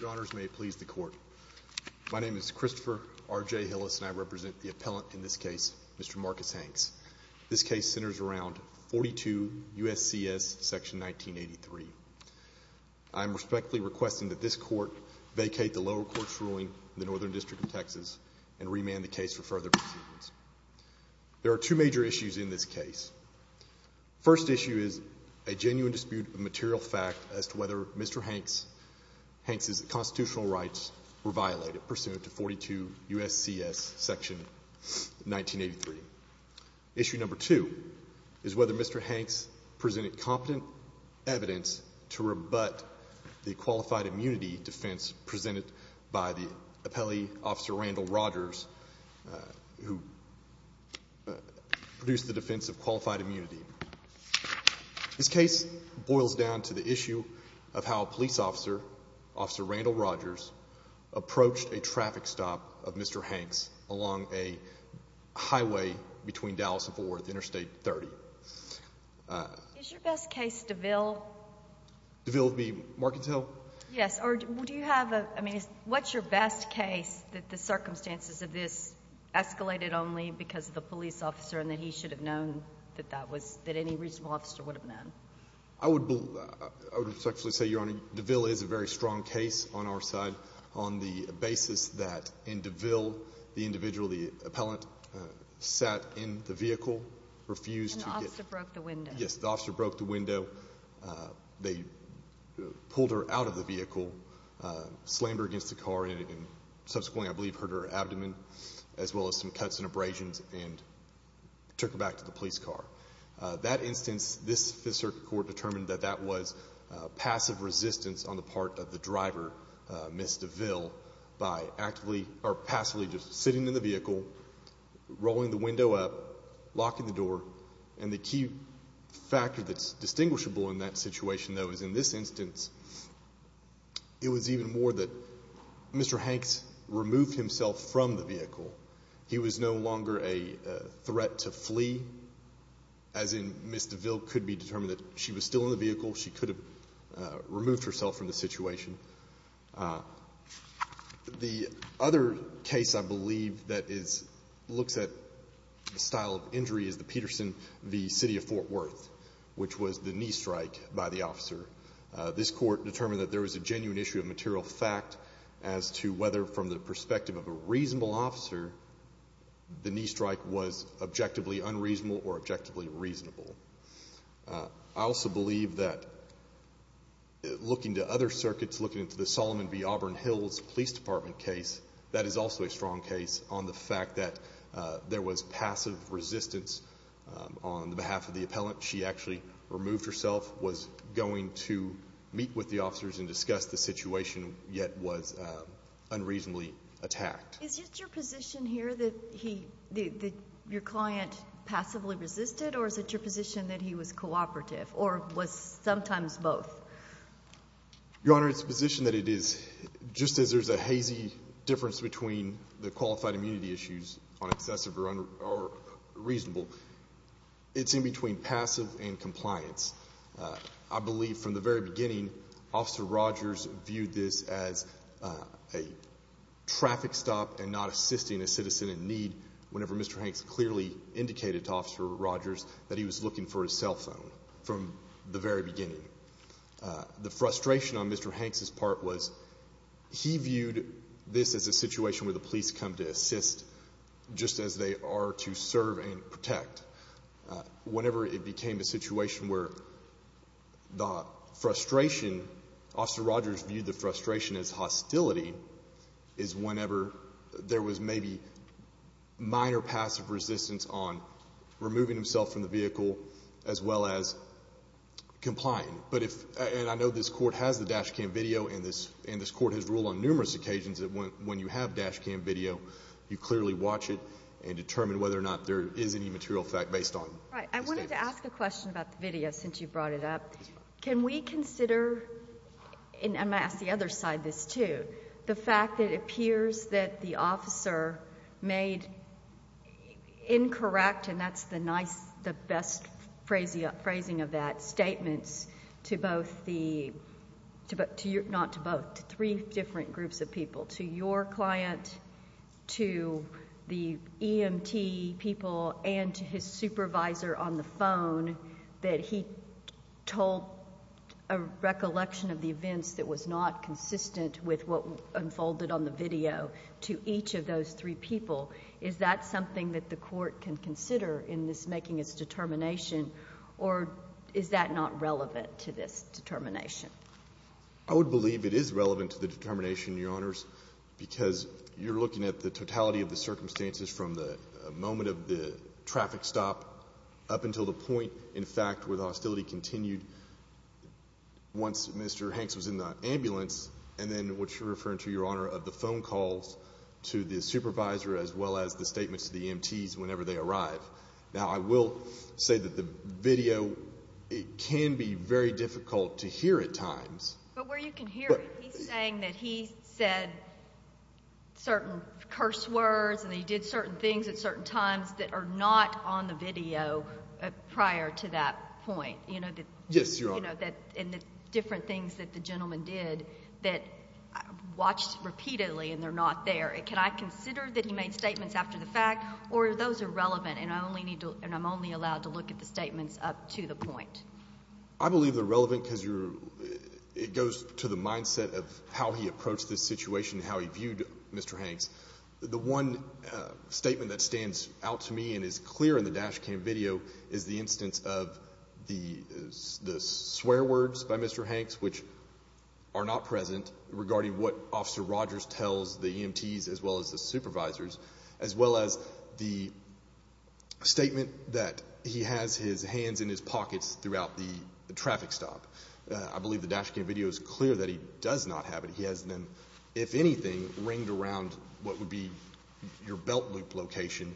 Your Honors, may it please the Court. My name is Christopher R.J. Hillis and I represent the appellant in this case, Mr. Marcus Hanks. This case centers around 42 U.S.C.S. section 1983. I am respectfully requesting that this Court vacate the lower court's ruling in the Northern District of Texas and remand the case for further proceedings. There are two major issues in this case. First issue is a genuine dispute of material fact as to whether Mr. Hanks' constitutional rights were violated pursuant to 42 U.S.C.S. section 1983. Issue number two is whether Mr. Hanks presented competent evidence to rebut the qualified immunity defense presented by the appellee, Officer Randall Rogers, who produced the defense of qualified immunity. This case boils down to the issue of how a police officer, Officer Randall Rogers, approached a traffic stop of Mr. Hanks along a highway between Dallas and Fort Worth, Interstate 30. Is your best case DeVille? DeVille v. Markins Hill? Yes. Or do you have a, I mean, what's your best case that the circumstances of this escalated only because of the police officer and that he should have known that that was, that any reasonable officer would have known? I would respectfully say, Your Honor, DeVille is a very strong case on our side. On the basis that in DeVille, the individual, the appellant, sat in the vehicle, refused to get... And the officer broke the window. Yes. The officer broke the window. They pulled her out of the vehicle, slammed her against the car, and subsequently, I believe, hurt her abdomen, as well as some cuts and abrasions, and took her back to the police car. That instance, this circuit court determined that that was passive resistance on the part of the driver, Ms. DeVille, by actively, or passively, just sitting in the vehicle, rolling the window up, locking the door. And the key factor that's distinguishable in that situation, though, is in this instance, it was even more that Mr. Hanks removed himself from the vehicle. He was no longer a threat to flee, as in Ms. DeVille could be determined that she was still in the vehicle, she could have removed herself from the situation. The other case, I believe, that looks at the style of injury is the Peterson v. City of Fort Worth, which was the knee strike by the officer. This court determined that there was a genuine issue of material fact as to whether, from the perspective of a reasonable officer, the knee strike was objectively unreasonable or objectively reasonable. I also believe that, looking to other circuits, looking to the Solomon v. Auburn Hills Police Department case, that is also a strong case on the fact that there was passive resistance on the behalf of the appellant. She actually removed herself, was going to meet with the officers and discuss the situation, yet was unreasonably attacked. Is it your position here that your client passively resisted, or is it your position that he was cooperative, or was sometimes both? Your Honor, it's the position that it is, just as there's a hazy difference between the qualified immunity issues on excessive or reasonable, it's in between passive and compliance. I believe, from the very beginning, Officer Rogers viewed this as a traffic stop and not assisting a citizen in need, whenever Mr. Hanks clearly indicated to Officer Rogers that he was looking for his cell phone, from the very beginning. The frustration on Mr. Hanks' part was, he viewed this as a situation where the police come to assist, just as they are to serve and protect. Whenever it became a situation where the frustration, Officer Rogers viewed the frustration as hostility, is whenever there was maybe minor passive resistance on removing himself from the vehicle, as well as complying. I know this Court has the dash cam video, and this Court has ruled on numerous occasions that when you have dash cam video, you clearly watch it and determine whether or not there is any material effect based on the statements. Right. I wanted to ask a question about the video, since you brought it up. Can we consider, and I'm going to ask the other side this too, the fact that it appears that the officer made incorrect, and that's the best phrasing of that, statements to both the, not to both, to three different groups of people, to your client, to the EMT people and to his supervisor on the phone, that he told a recollection of the events that was not consistent with what unfolded on the video to each of those three people. Is that something that the Court can consider in this making its determination, or is that not relevant to this determination? I would believe it is relevant to the determination, Your Honors, because you're looking at the traffic stop up until the point, in fact, where the hostility continued once Mr. Hanks was in the ambulance, and then what you're referring to, Your Honor, of the phone calls to the supervisor as well as the statements to the EMTs whenever they arrive. Now, I will say that the video, it can be very difficult to hear at times. But where you can hear it, he's saying that he said certain curse words and he did certain things at certain times that are not on the video prior to that point. Yes, Your Honor. And the different things that the gentleman did that watched repeatedly and they're not there. Can I consider that he made statements after the fact, or are those irrelevant and I'm only allowed to look at the statements up to the point? I believe they're relevant because it goes to the mindset of how he approached this situation and how he viewed Mr. Hanks. The one statement that stands out to me and is clear in the dash cam video is the instance of the swear words by Mr. Hanks, which are not present, regarding what Officer Rogers tells the EMTs as well as the supervisors, as well as the statement that he has his hands in his pockets throughout the traffic stop. I believe the dash cam video is clear that he does not have it. He has them, if anything, ringed around what would be your belt loop location.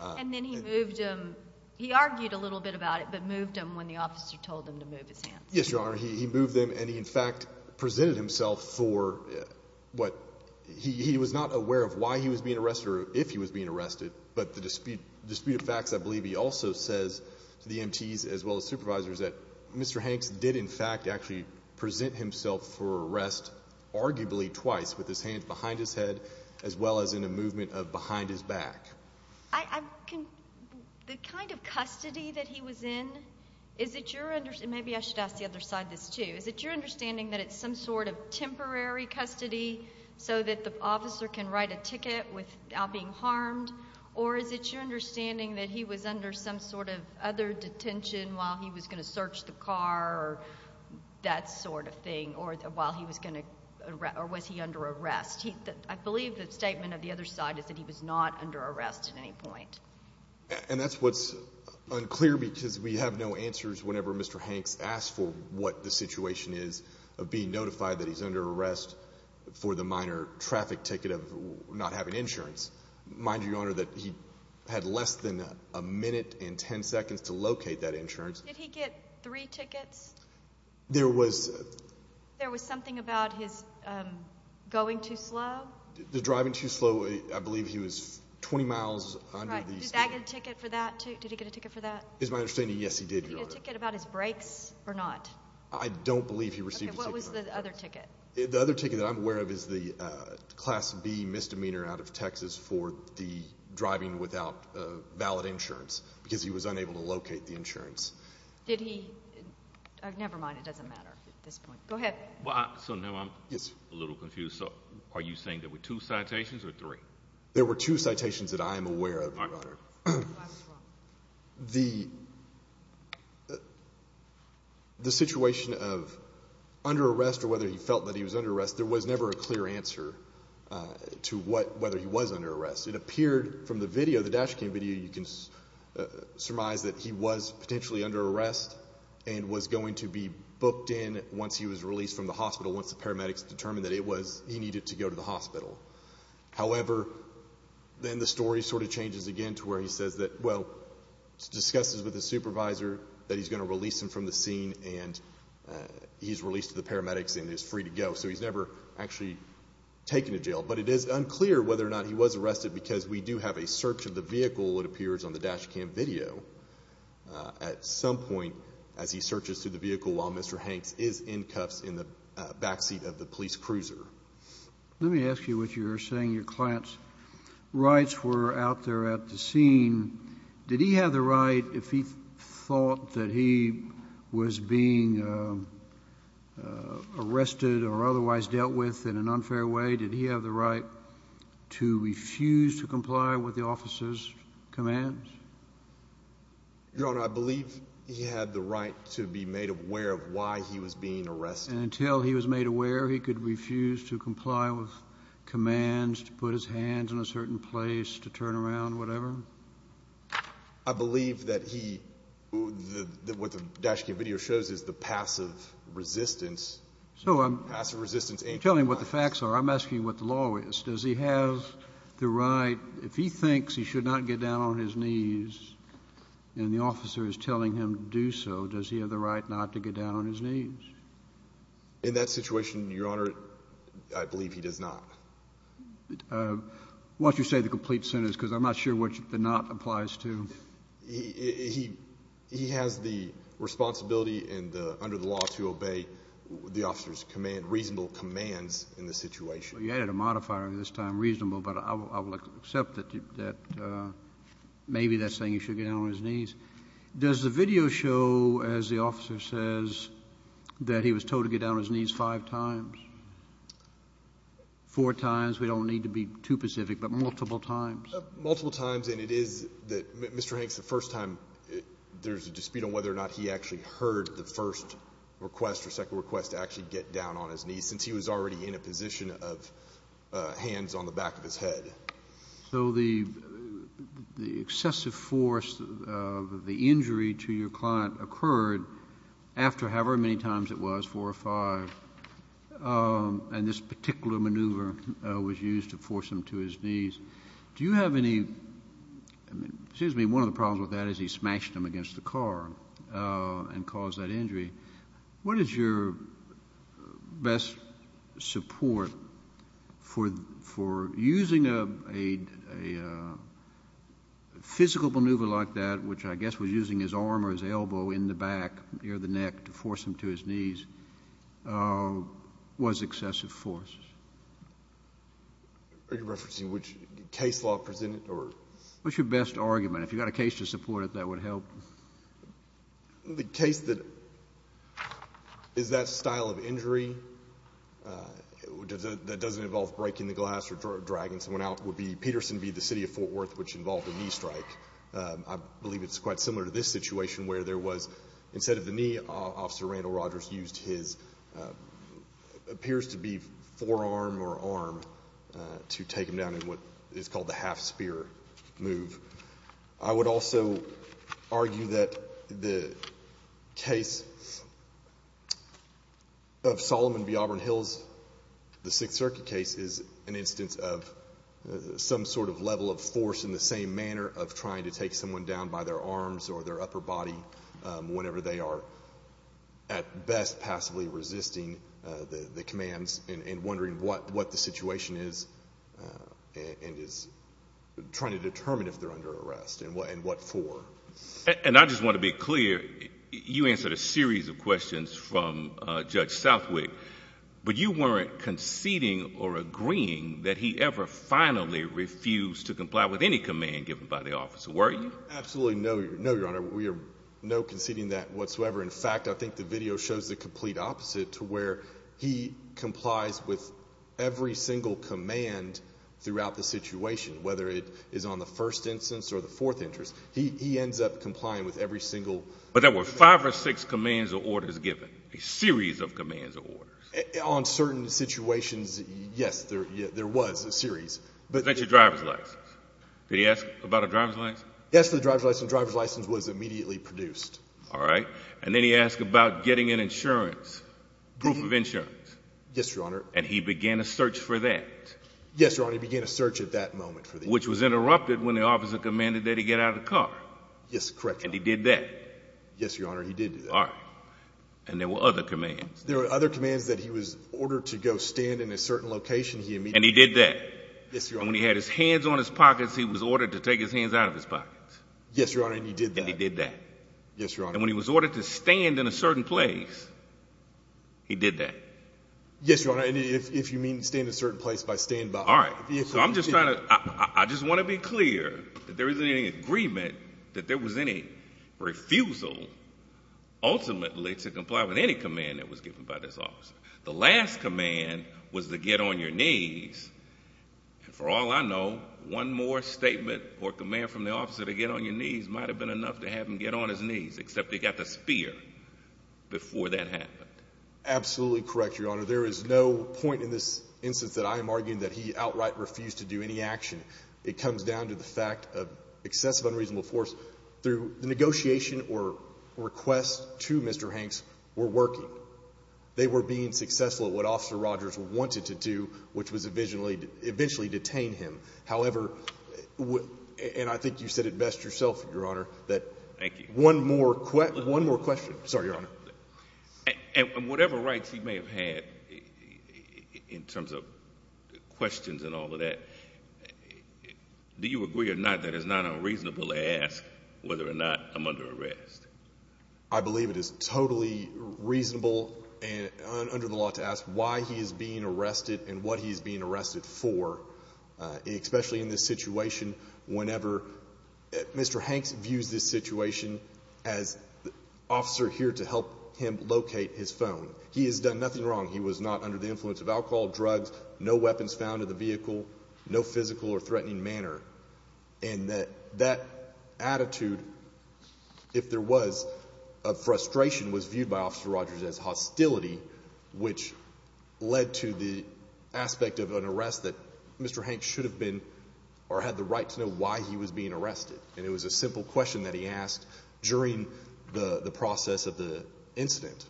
And then he moved them, he argued a little bit about it, but moved them when the officer told him to move his hands. Yes, Your Honor. He moved them and he in fact presented himself for what, he was not aware of why he was being arrested or if he was being arrested, but the disputed facts I believe he also says to the EMTs as well as supervisors that Mr. Hanks did in fact actually present himself for arrest arguably twice, with his hands behind his head as well as in a movement of behind his back. The kind of custody that he was in, is it your, maybe I should ask the other side this too, is it your understanding that it's some sort of temporary custody so that the officer can write a ticket without being harmed? Or is it your understanding that he was under some sort of other detention while he was going to search the car or that sort of thing or while he was going to, or was he under arrest? I believe the statement of the other side is that he was not under arrest at any point. And that's what's unclear because we have no answers whenever Mr. Hanks asks for what the situation is of being notified that he's under arrest for the minor traffic ticket of not having insurance. Mind you, Your Honor, that he had less than a minute and ten seconds to locate that insurance. Did he get three tickets? There was... There was something about his going too slow? The driving too slow, I believe he was 20 miles under the speed limit. Right. Did that get a ticket for that too? Did he get a ticket for that? It's my understanding, yes, he did, Your Honor. Did he get a ticket about his brakes or not? I don't believe he received a ticket about his brakes. Okay, what was the other ticket? The other ticket that I'm aware of is the Class B misdemeanor out of Texas for the driving without valid insurance because he was unable to locate the insurance. Did he... Never mind, it doesn't matter at this point. Go ahead. So now I'm a little confused. Are you saying there were two citations or three? There were two citations that I am aware of, Your Honor. I was wrong. The situation of under arrest or whether he felt that he was under arrest, there was never a clear answer to whether he was under arrest. It appeared from the video, the dash cam video, you can surmise that he was potentially under arrest and was going to be booked in once he was released from the hospital, once the paramedics determined that he needed to go to the hospital. However, then the story sort of changes again to where he says that, well, he discusses with his supervisor that he's going to release him from the scene and he's released to the paramedics and is free to go. So he's never actually taken to jail. But it is unclear whether or not he was arrested because we do have a search of the vehicle, it appears on the dash cam video, at some point as he searches through the vehicle while Mr. Hanks is in cuffs in the backseat of the police cruiser. Let me ask you what you're saying. Your client's rights were out there at the scene. Did he have the right, if he thought that he was being arrested or otherwise dealt with in an unfair way, did he have the right to refuse to comply with the officer's commands? Your Honor, I believe he had the right to be made aware of why he was being arrested. And until he was made aware, he could refuse to comply with commands, to put his hands in a certain place, to turn around, whatever? I believe that what the dash cam video shows is the passive resistance. So I'm telling you what the facts are. I'm asking you what the law is. Does he have the right, if he thinks he should not get down on his knees and the officer is telling him to do so, does he have the right not to get down on his knees? In that situation, Your Honor, I believe he does not. Why don't you say the complete sentence because I'm not sure what the not applies to. He has the responsibility under the law to obey the officer's reasonable commands in the situation. You added a modifier this time, reasonable, but I will accept that maybe that's saying he should get down on his knees. Does the video show, as the officer says, that he was told to get down on his knees five times? Four times? We don't need to be too specific, but multiple times? Multiple times, and it is that Mr. Hanks, the first time, there's a dispute on whether or not he actually heard the first request or second request to actually get down on his knees, since he was already in a position of hands on the back of his head. So the excessive force of the injury to your client occurred after however many times it was, four or five, and this particular maneuver was used to force him to his knees. Do you have any, excuse me, one of the problems with that is he smashed him against the car and caused that injury. What is your best support for using a physical maneuver like that, which I guess was using his arm or his elbow in the back near the neck to force him to his knees, was excessive force? Are you referencing which case law presented? What's your best argument? If you've got a case to support it, that would help. The case that is that style of injury that doesn't involve breaking the glass or dragging someone out would be Peterson v. The City of Fort Worth, which involved a knee strike. I believe it's quite similar to this situation where there was, instead of the knee, Officer Randall Rogers used his, appears to be forearm or arm, to take him down in what is called the half spear move. I would also argue that the case of Solomon v. Auburn Hills, the Sixth Circuit case, is an instance of some sort of level of force in the same manner of trying to take someone down by their arms or their upper body whenever they are, at best, passively resisting the commands and wondering what the situation is and is trying to determine if they're under arrest and what for. I just want to be clear, you answered a series of questions from Judge Southwick, but you weren't conceding or agreeing that he ever finally refused to comply with any command given by the officer, were you? Absolutely no, Your Honor. We are no conceding that whatsoever. In fact, I think the video shows the complete opposite to where he complies with every single command throughout the situation, whether it is on the first instance or the fourth instance. He ends up complying with every single— But there were five or six commands or orders given, a series of commands or orders. On certain situations, yes, there was a series. What about your driver's license? Did he ask about a driver's license? Yes, the driver's license was immediately produced. All right. And then he asked about getting an insurance, proof of insurance. Yes, Your Honor. And he began a search for that. Yes, Your Honor, he began a search at that moment. Which was interrupted when the officer commanded that he get out of the car. Yes, correct, Your Honor. And he did that? Yes, Your Honor, he did do that. All right. And there were other commands? There were other commands that he was ordered to go stand in a certain location, he immediately— And he did that? Yes, Your Honor. And when he had his hands on his pockets, he was ordered to take his hands out of his pockets? Yes, Your Honor, and he did that. And he did that? Yes, Your Honor. And when he was ordered to stand in a certain place, he did that? Yes, Your Honor, and if you mean stand in a certain place by stand— All right. So I'm just trying to—I just want to be clear that there isn't any agreement that there was any refusal ultimately to comply with any command that was given by this officer. The last command was to get on your knees, and for all I know, one more statement or command from the officer to get on your knees might have been enough to have him get on his knees, except he got the spear before that happened. Absolutely correct, Your Honor. There is no point in this instance that I am arguing that he outright refused to do any action. It comes down to the fact of excessive unreasonable force through the negotiation or request to Mr. Hanks were working. They were being successful at what Officer Rogers wanted to do, which was eventually detain him. However, and I think you said it best yourself, Your Honor, that— Thank you. One more question. One more question. Sorry, Your Honor. And whatever rights he may have had in terms of questions and all of that, do you agree or not that it's not unreasonable to ask whether or not I'm under arrest? I believe it is totally reasonable and under the law to ask why he is being arrested and what he is being arrested for, especially in this situation, whenever Mr. Hanks views this situation as the officer here to help him locate his phone. He has done nothing wrong. He was not under the influence of alcohol, drugs, no weapons found in the vehicle, no physical or threatening manner, and that that attitude, if there was, of frustration, was viewed by Officer Rogers as hostility, which led to the aspect of an arrest that Mr. Hanks should have been or had the right to know why he was being arrested. And it was a simple question that he asked during the process of the incident.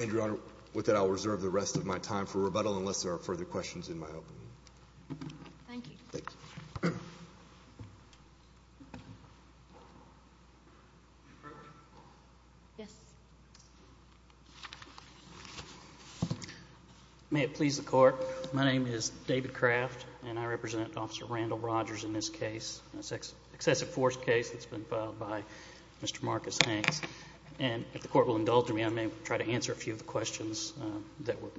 And, Your Honor, with that, I'll reserve the rest of my time for rebuttal unless there are further questions in my opening. Thank you. Thank you. Thank you. Yes. May it please the Court, my name is David Craft, and I represent Officer Randall Rogers in this case, an excessive force case that's been filed by Mr. Marcus Hanks. And if the Court will indulge me, I may try to answer a few of the questions that were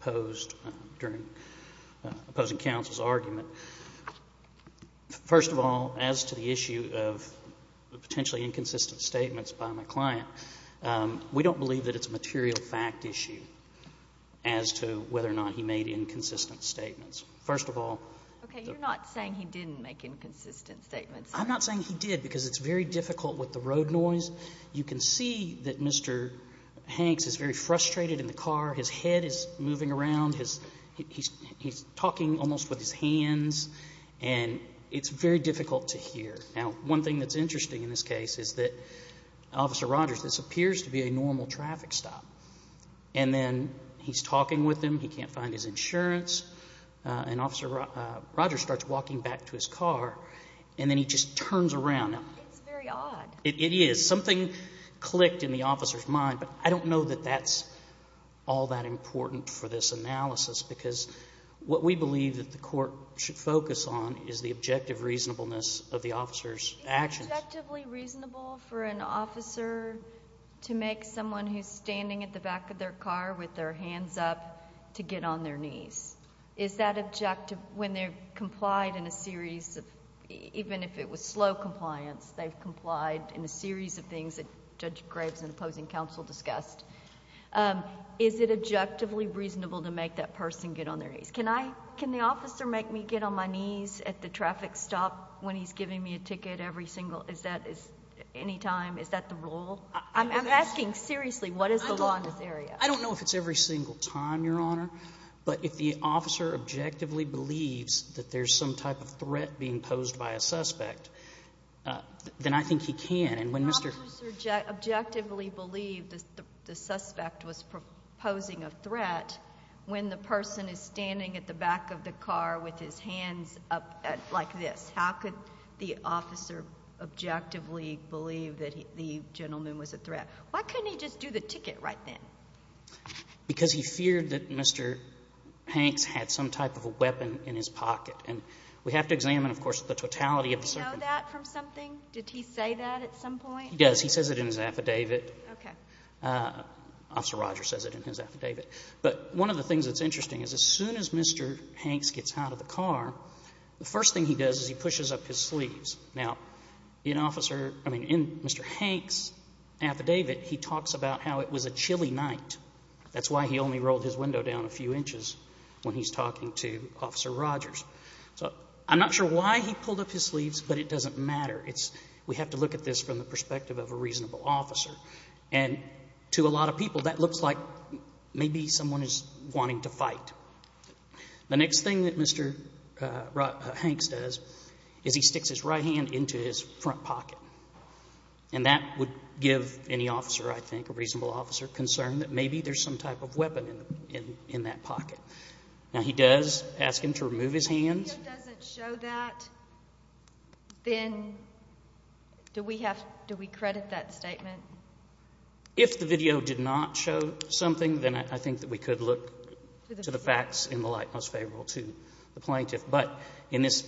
posed during opposing counsel's argument. First of all, as to the issue of potentially inconsistent statements by my client, we don't believe that it's a material fact issue as to whether or not he made inconsistent statements. First of all, the ---- Okay. You're not saying he didn't make inconsistent statements. I'm not saying he did because it's very difficult with the road noise. You can see that Mr. Hanks is very frustrated in the car. His head is moving around. He's talking almost with his hands. And it's very difficult to hear. Now, one thing that's interesting in this case is that, Officer Rogers, this appears to be a normal traffic stop. And then he's talking with him. He can't find his insurance. And Officer Rogers starts walking back to his car, and then he just turns around. It's very odd. It is. Something clicked in the officer's mind. But I don't know that that's all that important for this analysis, because what we believe that the court should focus on is the objective reasonableness of the officer's actions. Is it objectively reasonable for an officer to make someone who's standing at the back of their car with their hands up to get on their knees? Is that objective when they're complied in a series of ---- in a series of things that Judge Graves and opposing counsel discussed? Is it objectively reasonable to make that person get on their knees? Can I ---- can the officer make me get on my knees at the traffic stop when he's giving me a ticket every single ---- is that any time? Is that the rule? I'm asking seriously what is the law in this area? I don't know if it's every single time, Your Honor. But if the officer objectively believes that there's some type of threat being posed by a suspect, then I think he can. And when Mr. ---- The officer objectively believed the suspect was posing a threat when the person is standing at the back of the car with his hands up like this. How could the officer objectively believe that the gentleman was a threat? Why couldn't he just do the ticket right then? Because he feared that Mr. Hanks had some type of a weapon in his pocket. And we have to examine, of course, the totality of the circumstances. Do you know that from something? Did he say that at some point? He does. He says it in his affidavit. Okay. Officer Rogers says it in his affidavit. But one of the things that's interesting is as soon as Mr. Hanks gets out of the car, the first thing he does is he pushes up his sleeves. Now, in Officer ---- I mean, in Mr. Hanks' affidavit, he talks about how it was a chilly night. That's why he only rolled his window down a few inches when he's talking to Officer Rogers. So I'm not sure why he pulled up his sleeves, but it doesn't matter. We have to look at this from the perspective of a reasonable officer. And to a lot of people, that looks like maybe someone is wanting to fight. The next thing that Mr. Hanks does is he sticks his right hand into his front pocket. And that would give any officer, I think, a reasonable officer, concern that maybe there's some type of weapon in that pocket. Now, he does ask him to remove his hands. If the video doesn't show that, then do we credit that statement? If the video did not show something, then I think that we could look to the facts in the light most favorable to the plaintiff. But in this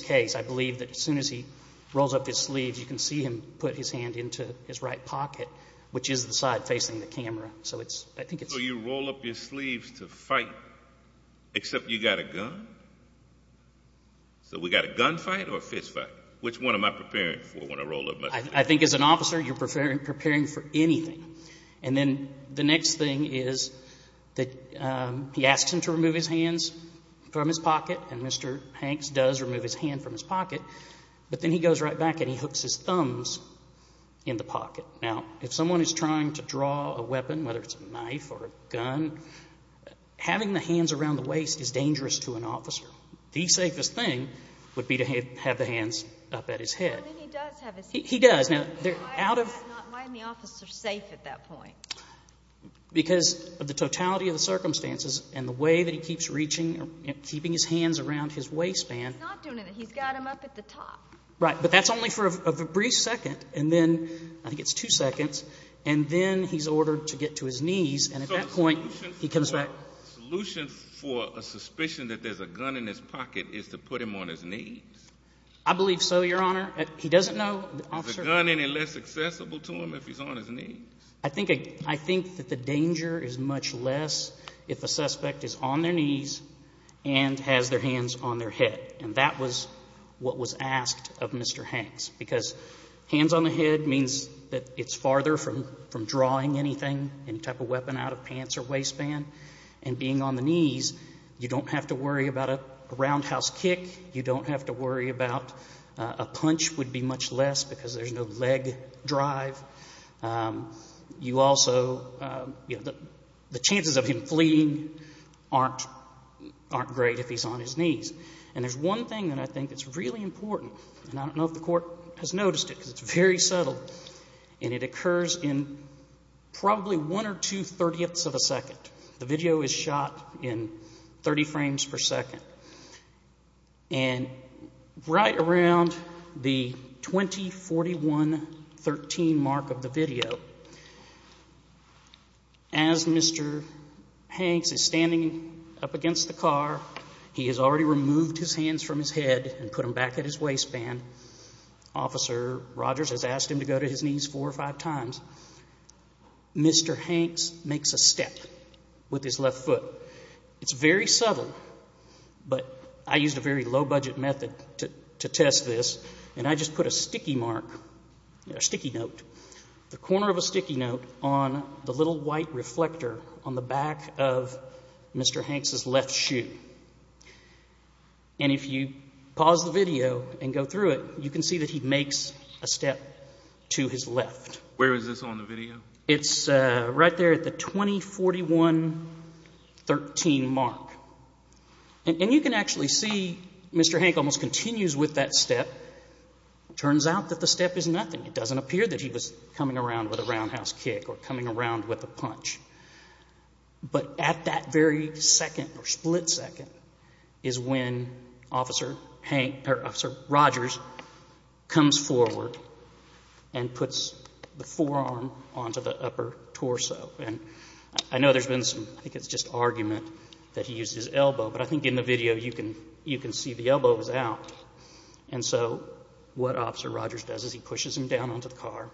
case, I believe that as soon as he rolls up his sleeves, you can see him put his hand into his right pocket, which is the side facing the camera. So I think it's ---- So you roll up your sleeves to fight, except you got a gun? So we got a gun fight or a fist fight? Which one am I preparing for when I roll up my sleeves? I think as an officer, you're preparing for anything. And then the next thing is that he asks him to remove his hands from his pocket, and Mr. Hanks does remove his hand from his pocket. But then he goes right back and he hooks his thumbs in the pocket. Now, if someone is trying to draw a weapon, whether it's a knife or a gun, having the hands around the waist is dangerous to an officer. The safest thing would be to have the hands up at his head. Well, then he does have his hands up. He does. Why isn't the officer safe at that point? Because of the totality of the circumstances and the way that he keeps reaching and keeping his hands around his waistband. He's not doing anything. He's got them up at the top. Right, but that's only for a brief second, and then I think it's two seconds, and then he's ordered to get to his knees, and at that point he comes back. So a solution for a suspicion that there's a gun in his pocket is to put him on his knees? I believe so, Your Honor. He doesn't know. Is a gun any less accessible to him if he's on his knees? I think that the danger is much less if a suspect is on their knees and has their hands on their head, and that was what was asked of Mr. Hanks, because hands on the head means that it's farther from drawing anything, any type of weapon, out of pants or waistband. And being on the knees, you don't have to worry about a roundhouse kick. You don't have to worry about a punch would be much less because there's no leg drive. You also, you know, the chances of him fleeing aren't great if he's on his knees. And there's one thing that I think that's really important, and I don't know if the Court has noticed it because it's very subtle, and it occurs in probably one or two thirtieths of a second. The video is shot in 30 frames per second. And right around the 20, 41, 13 mark of the video, as Mr. Hanks is standing up against the car, he has already removed his hands from his head and put them back at his waistband. Officer Rogers has asked him to go to his knees four or five times. Mr. Hanks makes a step with his left foot. It's very subtle, but I used a very low-budget method to test this, and I just put a sticky mark, a sticky note, the corner of a sticky note on the little white reflector on the back of Mr. Hanks' left shoe. And if you pause the video and go through it, you can see that he makes a step to his left. Where is this on the video? It's right there at the 20, 41, 13 mark. And you can actually see Mr. Hanks almost continues with that step. It turns out that the step is nothing. It doesn't appear that he was coming around with a roundhouse kick or coming around with a punch. But at that very second or split second is when Officer Rogers comes forward and puts the forearm onto the upper torso. And I know there's been some, I think it's just argument that he used his elbow, but I think in the video you can see the elbow was out. And so what Officer Rogers does is he pushes him down onto the car.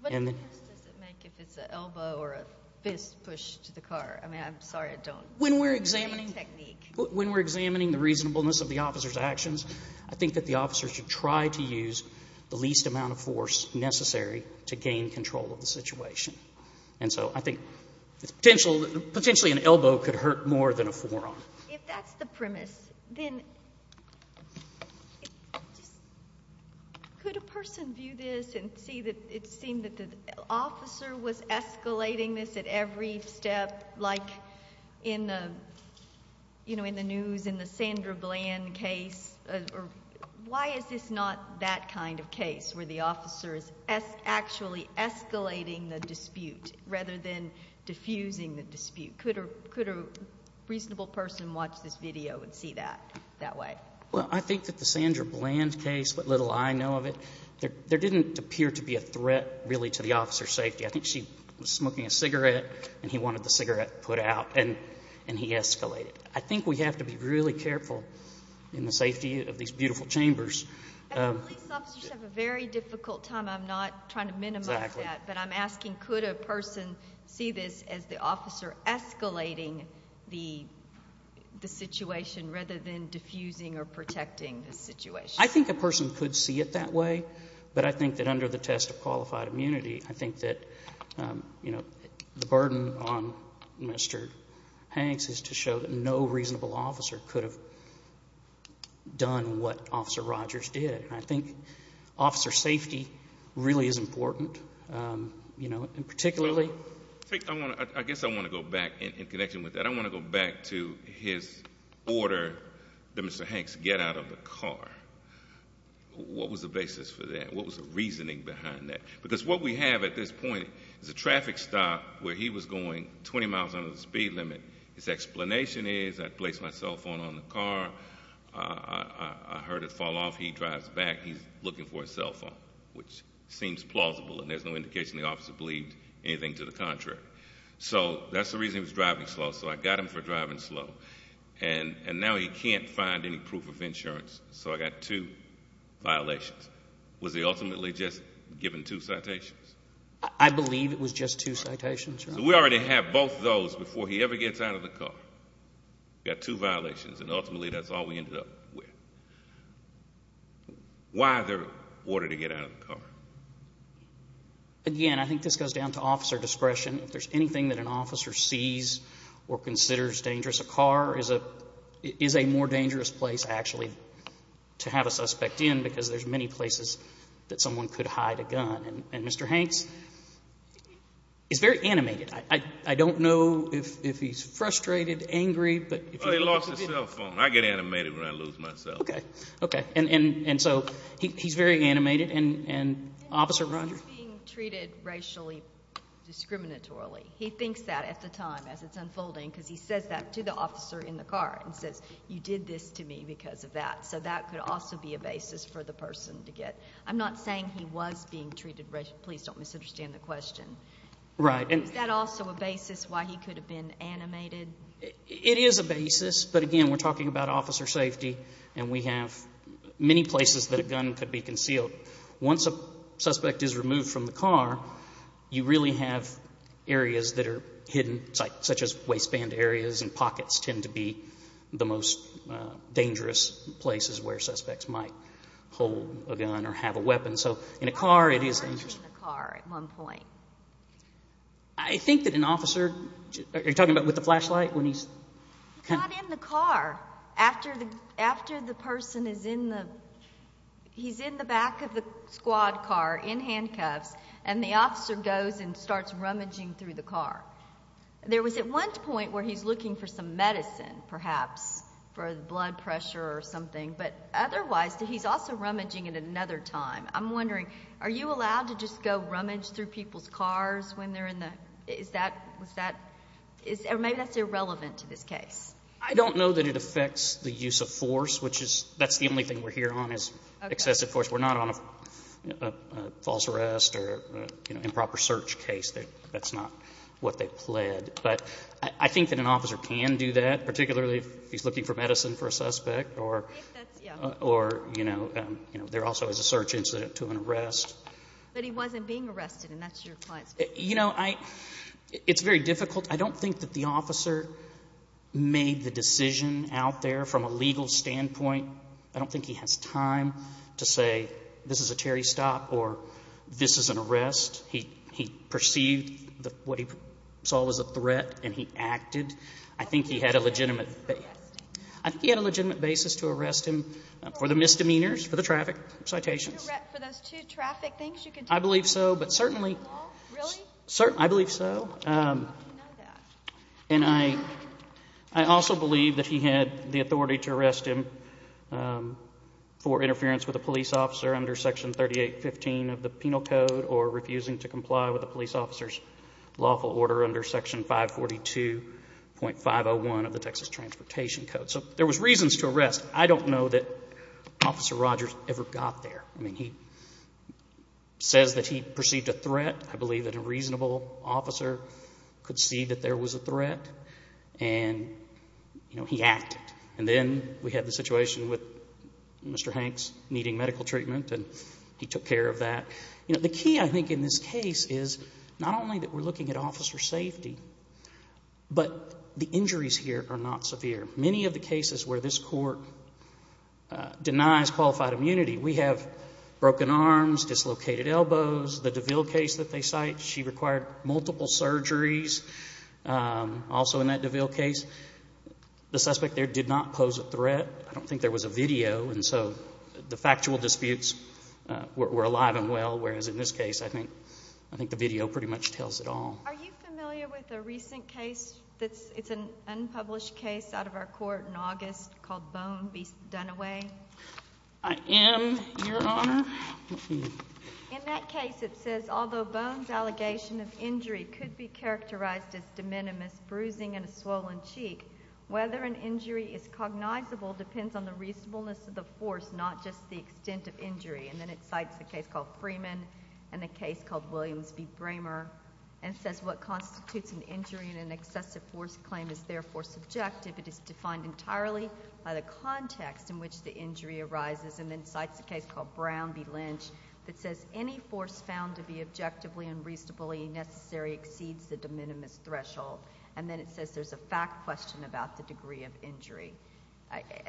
What difference does it make if it's an elbow or a fist push to the car? I mean, I'm sorry I don't know the technique. When we're examining the reasonableness of the officer's actions, I think that the officer should try to use the least amount of force necessary to gain control of the situation. And so I think potentially an elbow could hurt more than a forearm. If that's the premise, then could a person view this and see that it seemed that the officer was escalating this at every step, like in the news in the Sandra Bland case? Why is this not that kind of case where the officer is actually escalating the dispute rather than diffusing the dispute? Could a reasonable person watch this video and see that that way? Well, I think that the Sandra Bland case, what little I know of it, there didn't appear to be a threat really to the officer's safety. I think she was smoking a cigarette, and he wanted the cigarette put out, and he escalated. I think we have to be really careful in the safety of these beautiful chambers. And police officers have a very difficult time. I'm not trying to minimize that. But I'm asking could a person see this as the officer escalating the situation rather than diffusing or protecting the situation? I think a person could see it that way. But I think that under the test of qualified immunity, I think that the burden on Mr. Hanks is to show that no reasonable officer could have done what Officer Rogers did. I think officer safety really is important, particularly. I guess I want to go back in connection with that. I want to go back to his order that Mr. Hanks get out of the car. What was the basis for that? What was the reasoning behind that? Because what we have at this point is a traffic stop where he was going 20 miles under the speed limit. His explanation is I placed my cell phone on the car. I heard it fall off. He drives back. He's looking for his cell phone, which seems plausible. And there's no indication the officer believed anything to the contrary. So that's the reason he was driving slow. So I got him for driving slow. And now he can't find any proof of insurance. So I got two violations. Was he ultimately just given two citations? I believe it was just two citations. So we already have both those before he ever gets out of the car. We've got two violations, and ultimately that's all we ended up with. Why their order to get out of the car? Again, I think this goes down to officer discretion. If there's anything that an officer sees or considers dangerous, a car is a more dangerous place actually to have a suspect in because there's many places that someone could hide a gun. And Mr. Hanks is very animated. I don't know if he's frustrated, angry. Well, he lost his cell phone. I get animated when I lose my cell phone. Okay. And so he's very animated. And Officer Rogers? He's being treated racially discriminatorily. He thinks that at the time as it's unfolding because he says that to the officer in the car and says, you did this to me because of that. So that could also be a basis for the person to get. I'm not saying he was being treated racially. Please don't misunderstand the question. Right. Is that also a basis why he could have been animated? It is a basis. But, again, we're talking about officer safety, and we have many places that a gun could be concealed. Once a suspect is removed from the car, you really have areas that are hidden such as waistband areas and pockets tend to be the most dangerous places where suspects might hold a gun or have a weapon. So in a car, it is dangerous. Why wasn't he in the car at one point? I think that an officer... Are you talking about with the flashlight when he's... He's not in the car. After the person is in the... He's in the back of the squad car in handcuffs, and the officer goes and starts rummaging through the car. There was at one point where he's looking for some medicine, perhaps, for blood pressure or something, but otherwise he's also rummaging at another time. I'm wondering, are you allowed to just go rummage through people's cars when they're in the... Or maybe that's irrelevant to this case. I don't know that it affects the use of force, which that's the only thing we're here on is excessive force. We're not on a false arrest or improper search case. That's not what they pled. But I think that an officer can do that, particularly if he's looking for medicine for a suspect. Or, you know, there also is a search incident to an arrest. But he wasn't being arrested, and that's your client's business. You know, it's very difficult. I don't think that the officer made the decision out there from a legal standpoint. I don't think he has time to say, this is a Terry stop or this is an arrest. He perceived what he saw was a threat and he acted. I think he had a legitimate... For the misdemeanors, for the traffic citations. For those two traffic things? I believe so, but certainly... Really? I believe so. How do you know that? And I also believe that he had the authority to arrest him for interference with a police officer under Section 3815 of the Penal Code or refusing to comply with a police officer's lawful order under Section 542.501 of the Texas Transportation Code. So there was reasons to arrest. I don't know that Officer Rogers ever got there. I mean, he says that he perceived a threat. I believe that a reasonable officer could see that there was a threat and, you know, he acted. And then we had the situation with Mr. Hanks needing medical treatment and he took care of that. You know, the key, I think, in this case is not only that we're looking at officer safety, but the injuries here are not severe. Many of the cases where this court denies qualified immunity, we have broken arms, dislocated elbows. The DeVille case that they cite, she required multiple surgeries also in that DeVille case. The suspect there did not pose a threat. I don't think there was a video, and so the factual disputes were alive and well, whereas in this case, I think the video pretty much tells it all. Are you familiar with a recent case that's an unpublished case out of our court in August called Bone v. Dunaway? I am, Your Honor. In that case, it says, although Bone's allegation of injury could be characterized as de minimis, bruising in a swollen cheek, whether an injury is cognizable depends on the reasonableness of the force, not just the extent of injury. And then it cites a case called Freeman and a case called Williams v. Bramer and says what constitutes an injury in an excessive force claim is therefore subjective. It is defined entirely by the context in which the injury arises, and then cites a case called Brown v. Lynch that says any force found to be objectively and reasonably necessary exceeds the de minimis threshold. And then it says there's a fact question about the degree of injury.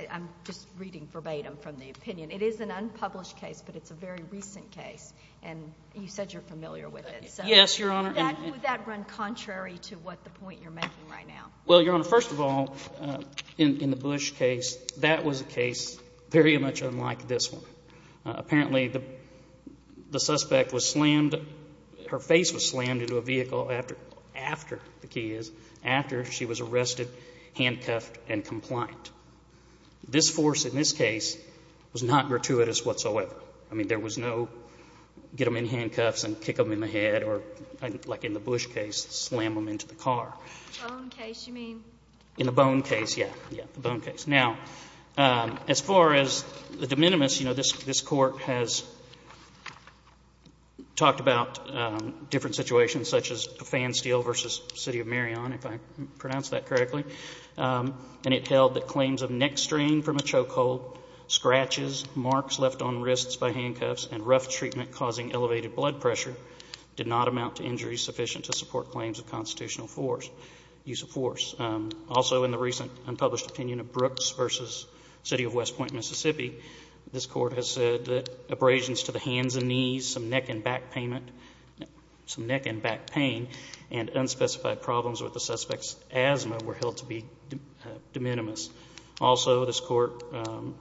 I'm just reading verbatim from the opinion. It is an unpublished case, but it's a very recent case, and you said you're familiar with it. Yes, Your Honor. Would that run contrary to what the point you're making right now? Well, Your Honor, first of all, in the Bush case, that was a case very much unlike this one. Apparently, the suspect was slammed, her face was slammed into a vehicle after, after, the key is, after she was arrested, handcuffed and compliant. This force in this case was not gratuitous whatsoever. I mean, there was no get them in handcuffs and kick them in the head or, like in the Bush case, slam them into the car. Bone case, you mean? In the bone case, yeah, yeah, the bone case. Now, as far as the de minimis, you know, this Court has talked about different situations such as Fan Steel v. City of Marion, if I pronounced that correctly, and it held that claims of neck strain from a chokehold, scratches, marks left on wrists by handcuffs, and rough treatment causing elevated blood pressure did not amount to injuries sufficient to support claims of constitutional force, use of force. Also, in the recent unpublished opinion of Brooks v. City of West Point, Mississippi, this Court has said that abrasions to the hands and knees, some neck and back pain, and unspecified problems with the suspect's asthma were held to be de minimis. Also, this Court,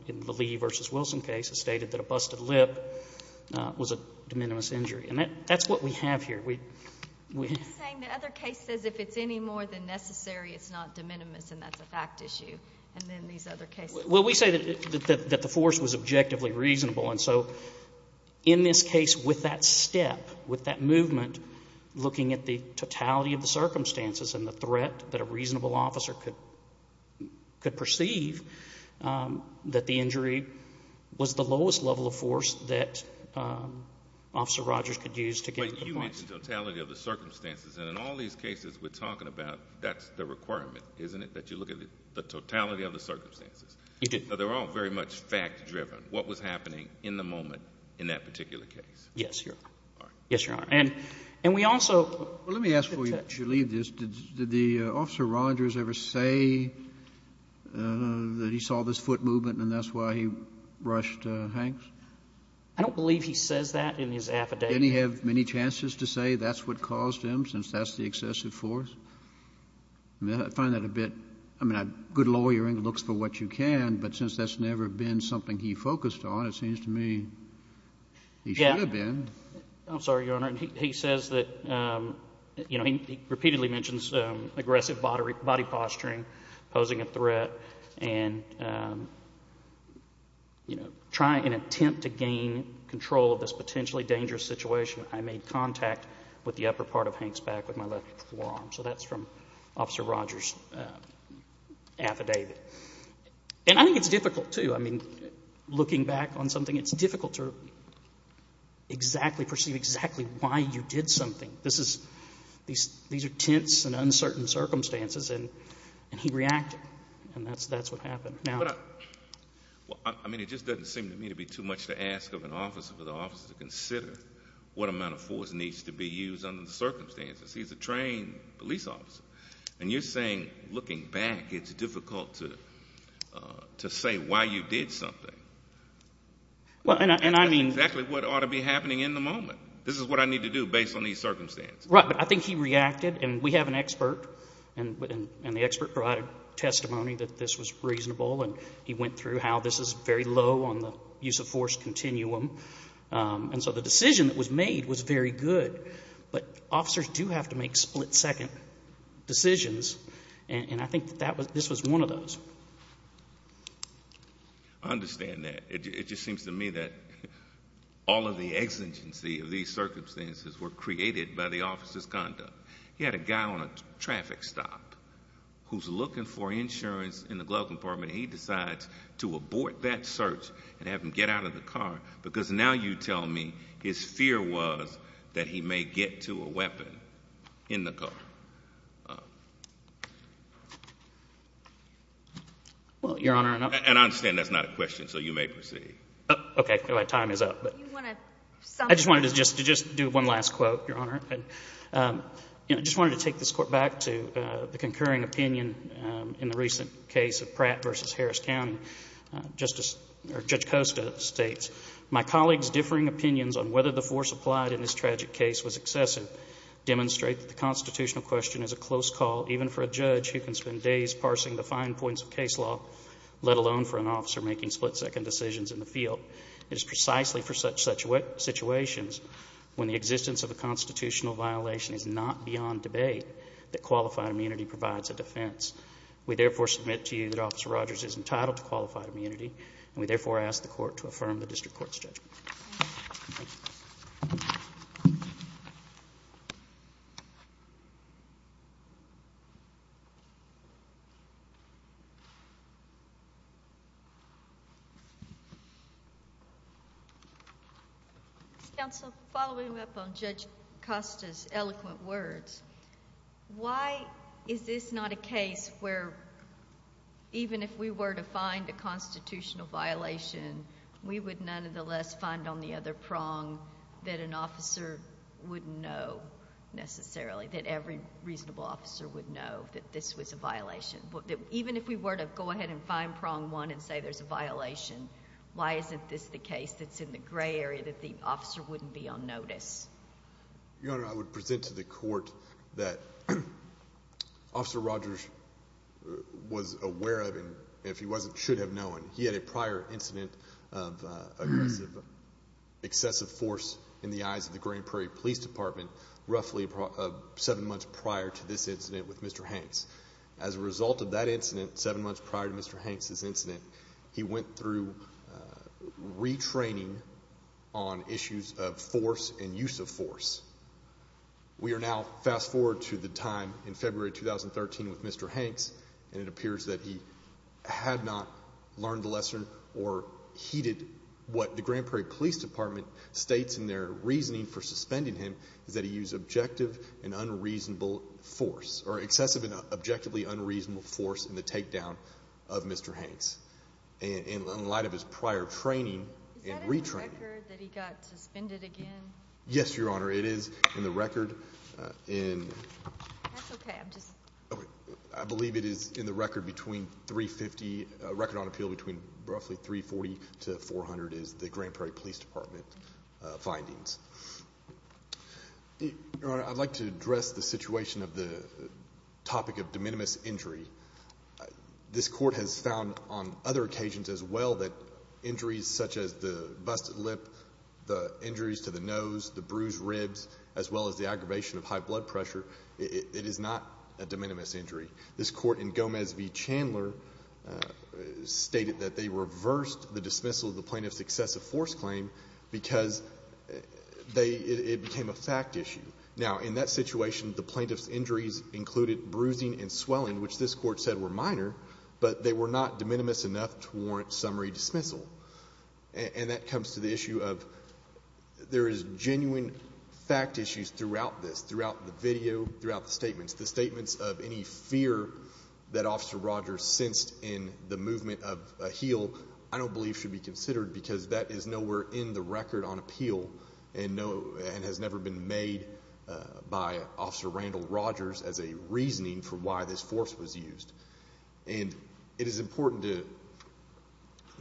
in the Lee v. Wilson case, has stated that a busted lip was a de minimis injury, and that's what we have here. You're saying the other case says if it's any more than necessary, it's not de minimis, and that's a fact issue, and then these other cases... Well, we say that the force was objectively reasonable, and so in this case, with that step, with that movement, looking at the totality of the circumstances and the threat that a reasonable officer could perceive, that the injury was the lowest level of force that Officer Rogers could use to get to the point. But you mentioned totality of the circumstances, and in all these cases we're talking about, that's the requirement, isn't it, that you look at the totality of the circumstances? You do. So they're all very much fact-driven, what was happening in the moment in that particular case. Yes, Your Honor. All right. Yes, Your Honor. And we also... Well, let me ask before you leave this, did the Officer Rogers ever say that he saw this foot movement and that's why he rushed Hanks? I don't believe he says that in his affidavit. Didn't he have many chances to say that's what caused him, since that's the excessive force? I find that a bit... I mean, a good lawyer looks for what you can, but since that's never been something he focused on, it seems to me he should have been. I'm sorry, Your Honor. He says that, you know, he repeatedly mentions aggressive body posturing, posing a threat, and, you know, trying in an attempt to gain control of this potentially dangerous situation, I made contact with the upper part of Hanks' back with my left forearm. So that's from Officer Rogers' affidavit. And I think it's difficult, too. I mean, looking back on something, it's difficult to exactly perceive exactly why you did something. These are tense and uncertain circumstances, and he reacted, and that's what happened. I mean, it just doesn't seem to me to be too much to ask of an officer for the officer to consider what amount of force needs to be used under the circumstances. He's a trained police officer, and you're saying looking back it's difficult to say why you did something. Well, and I mean... That's exactly what ought to be happening in the moment. This is what I need to do based on these circumstances. Right, but I think he reacted, and we have an expert, and the expert provided testimony that this was reasonable, and he went through how this is very low on the use of force continuum. And so the decision that was made was very good, but officers do have to make split-second decisions, and I think that this was one of those. I understand that. It just seems to me that all of the exigency of these circumstances were created by the officer's conduct. He had a guy on a traffic stop who's looking for insurance in the glove compartment, and he decides to abort that search and have him get out of the car because now you tell me his fear was that he may get to a weapon in the car. Well, Your Honor... And I understand that's not a question, so you may proceed. Okay. My time is up. I just wanted to just do one last quote, Your Honor. I just wanted to take this court back to the concurring opinion in the recent case of Pratt v. Harris County. Judge Costa states, My colleagues' differing opinions on whether the force applied in this tragic case was excessive demonstrate that the constitutional question is a close call even for a judge who can spend days parsing the fine points of case law, let alone for an officer making split-second decisions in the field. It is precisely for such situations, when the existence of a constitutional violation is not beyond debate, that qualified immunity provides a defense. We therefore submit to you that Officer Rogers is entitled to qualified immunity, and we therefore ask the court to affirm the district court's judgment. Counsel, following up on Judge Costa's eloquent words, why is this not a case where even if we were to find a constitutional violation, we would nonetheless find on the other prong that an officer wouldn't know necessarily, that every reasonable officer would know that this was a violation? Even if we were to go ahead and find prong one and say there's a violation, why isn't this the case that's in the gray area that the officer wouldn't be on notice? Your Honor, I would present to the court that Officer Rogers was aware of, and if he wasn't, should have known. He had a prior incident of excessive force in the eyes of the Grand Prairie Police Department roughly seven months prior to this incident with Mr. Hanks. As a result of that incident, seven months prior to Mr. Hanks' incident, he went through retraining on issues of force and use of force. We are now fast forward to the time in February 2013 with Mr. Hanks, and it appears that he had not learned the lesson or heeded what the Grand Prairie Police Department states in their reasoning for suspending him, is that he used objective and unreasonable force, or excessive and objectively unreasonable force in the takedown of Mr. Hanks in light of his prior training and retraining. Is that in the record that he got suspended again? Yes, Your Honor, it is in the record. That's okay. I believe it is in the record between 350, record on appeal between roughly 340 to 400 is the Grand Prairie Police Department findings. Your Honor, I'd like to address the situation of the topic of de minimis injury. This Court has found on other occasions as well that injuries such as the busted lip, the injuries to the nose, the bruised ribs, as well as the aggravation of high blood pressure, it is not a de minimis injury. This Court in Gomez v. Chandler stated that they reversed the dismissal of the plaintiff's excessive force claim because it became a fact issue. Now, in that situation, the plaintiff's injuries included bruising and swelling, which this Court said were minor, but they were not de minimis enough to warrant summary dismissal. And that comes to the issue of there is genuine fact issues throughout this, throughout the video, throughout the statements. The statements of any fear that Officer Rogers sensed in the movement of a heel, I don't believe should be considered because that is nowhere in the record on appeal and has never been made by Officer Randall Rogers as a reasoning for why this force was used. And it is important to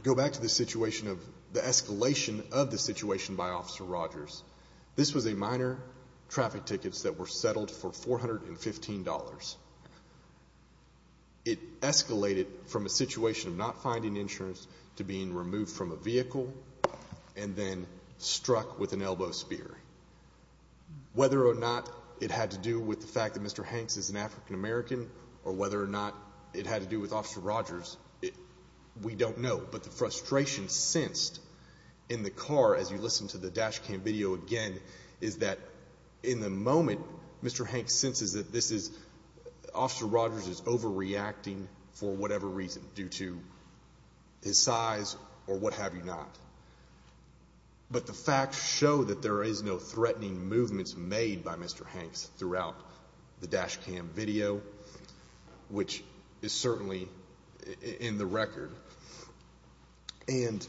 go back to the situation of the escalation of the situation by Officer Rogers. This was a minor traffic tickets that were settled for $415. It escalated from a situation of not finding insurance to being removed from a vehicle and then struck with an elbow spear. Whether or not it had to do with the fact that Mr. Hanks is an African American or whether or not it had to do with Officer Rogers, we don't know. But the frustration sensed in the car as you listen to the dash cam video again is that in the moment Mr. Hanks senses that this is Officer Rogers is overreacting for whatever reason due to his size or what have you not. But the facts show that there is no threatening movements made by Mr. Hanks throughout the dash cam video, which is certainly in the record. And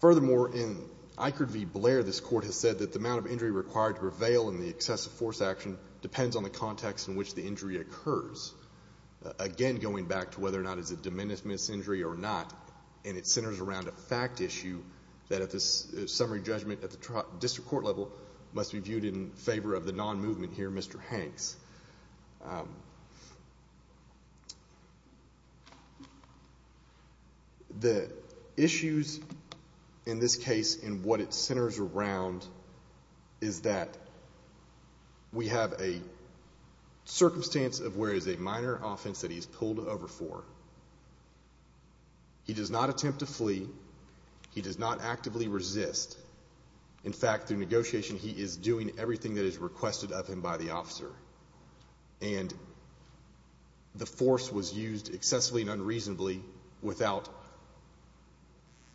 furthermore, in Eichert v. Blair, this court has said that the amount of injury required to prevail in the excessive force action depends on the context in which the injury occurs. Again, going back to whether or not it is a de minimis injury or not, and it centers around a fact issue that at this summary judgment at the district court level must be viewed in favor of the non-movement here, Mr. Hanks. The issues in this case and what it centers around is that we have a circumstance of where it is a minor offense that he is pulled over for. He does not attempt to flee. He does not actively resist. In fact, through negotiation he is doing everything that is requested of him by the officer. And the force was used excessively and unreasonably without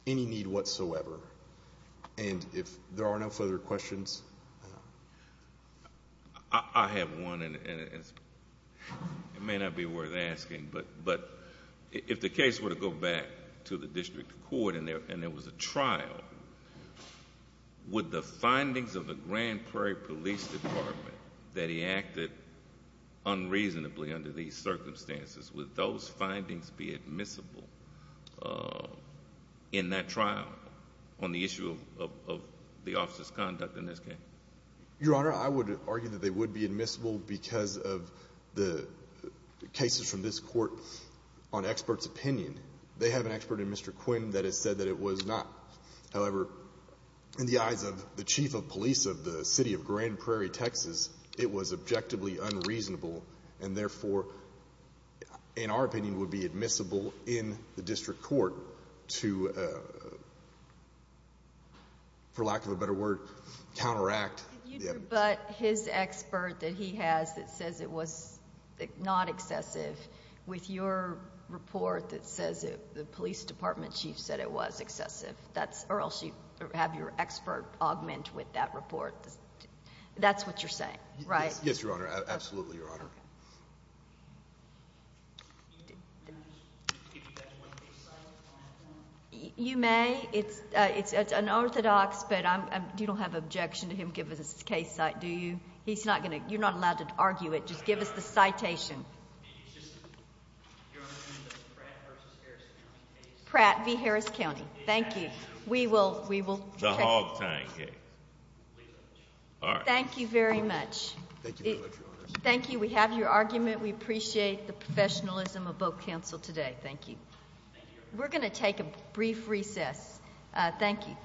any need whatsoever. And if there are no further questions? I have one, and it may not be worth asking. But if the case were to go back to the district court and there was a trial, would the findings of the Grand Prairie Police Department that he acted unreasonably under these circumstances, would those findings be admissible in that trial on the issue of the officer's conduct in this case? Your Honor, I would argue that they would be admissible because of the cases from this court on experts' opinion. They have an expert in Mr. Quinn that has said that it was not. However, in the eyes of the chief of police of the city of Grand Prairie, Texas, it was objectively unreasonable and therefore, in our opinion, would be admissible in the district court to, for lack of a better word, counteract. Could you rebut his expert that he has that says it was not excessive with your report that says the police department chief said it was excessive? Or else you have your expert augment with that report. That's what you're saying, right? Yes, Your Honor. Absolutely, Your Honor. You may. It's unorthodox, but you don't have objection to him give us his case, do you? You're not allowed to argue it. Just give us the citation. Your Honor, you mean the Pratt v. Harris County case? Pratt v. Harris County. Thank you. We will check. The hog tying case. All right. Thank you very much. Thank you very much, Your Honor. Thank you. We have your argument. We appreciate the professionalism of both counsel today. Thank you. Thank you, Your Honor. We're going to take a brief recess. Thank you.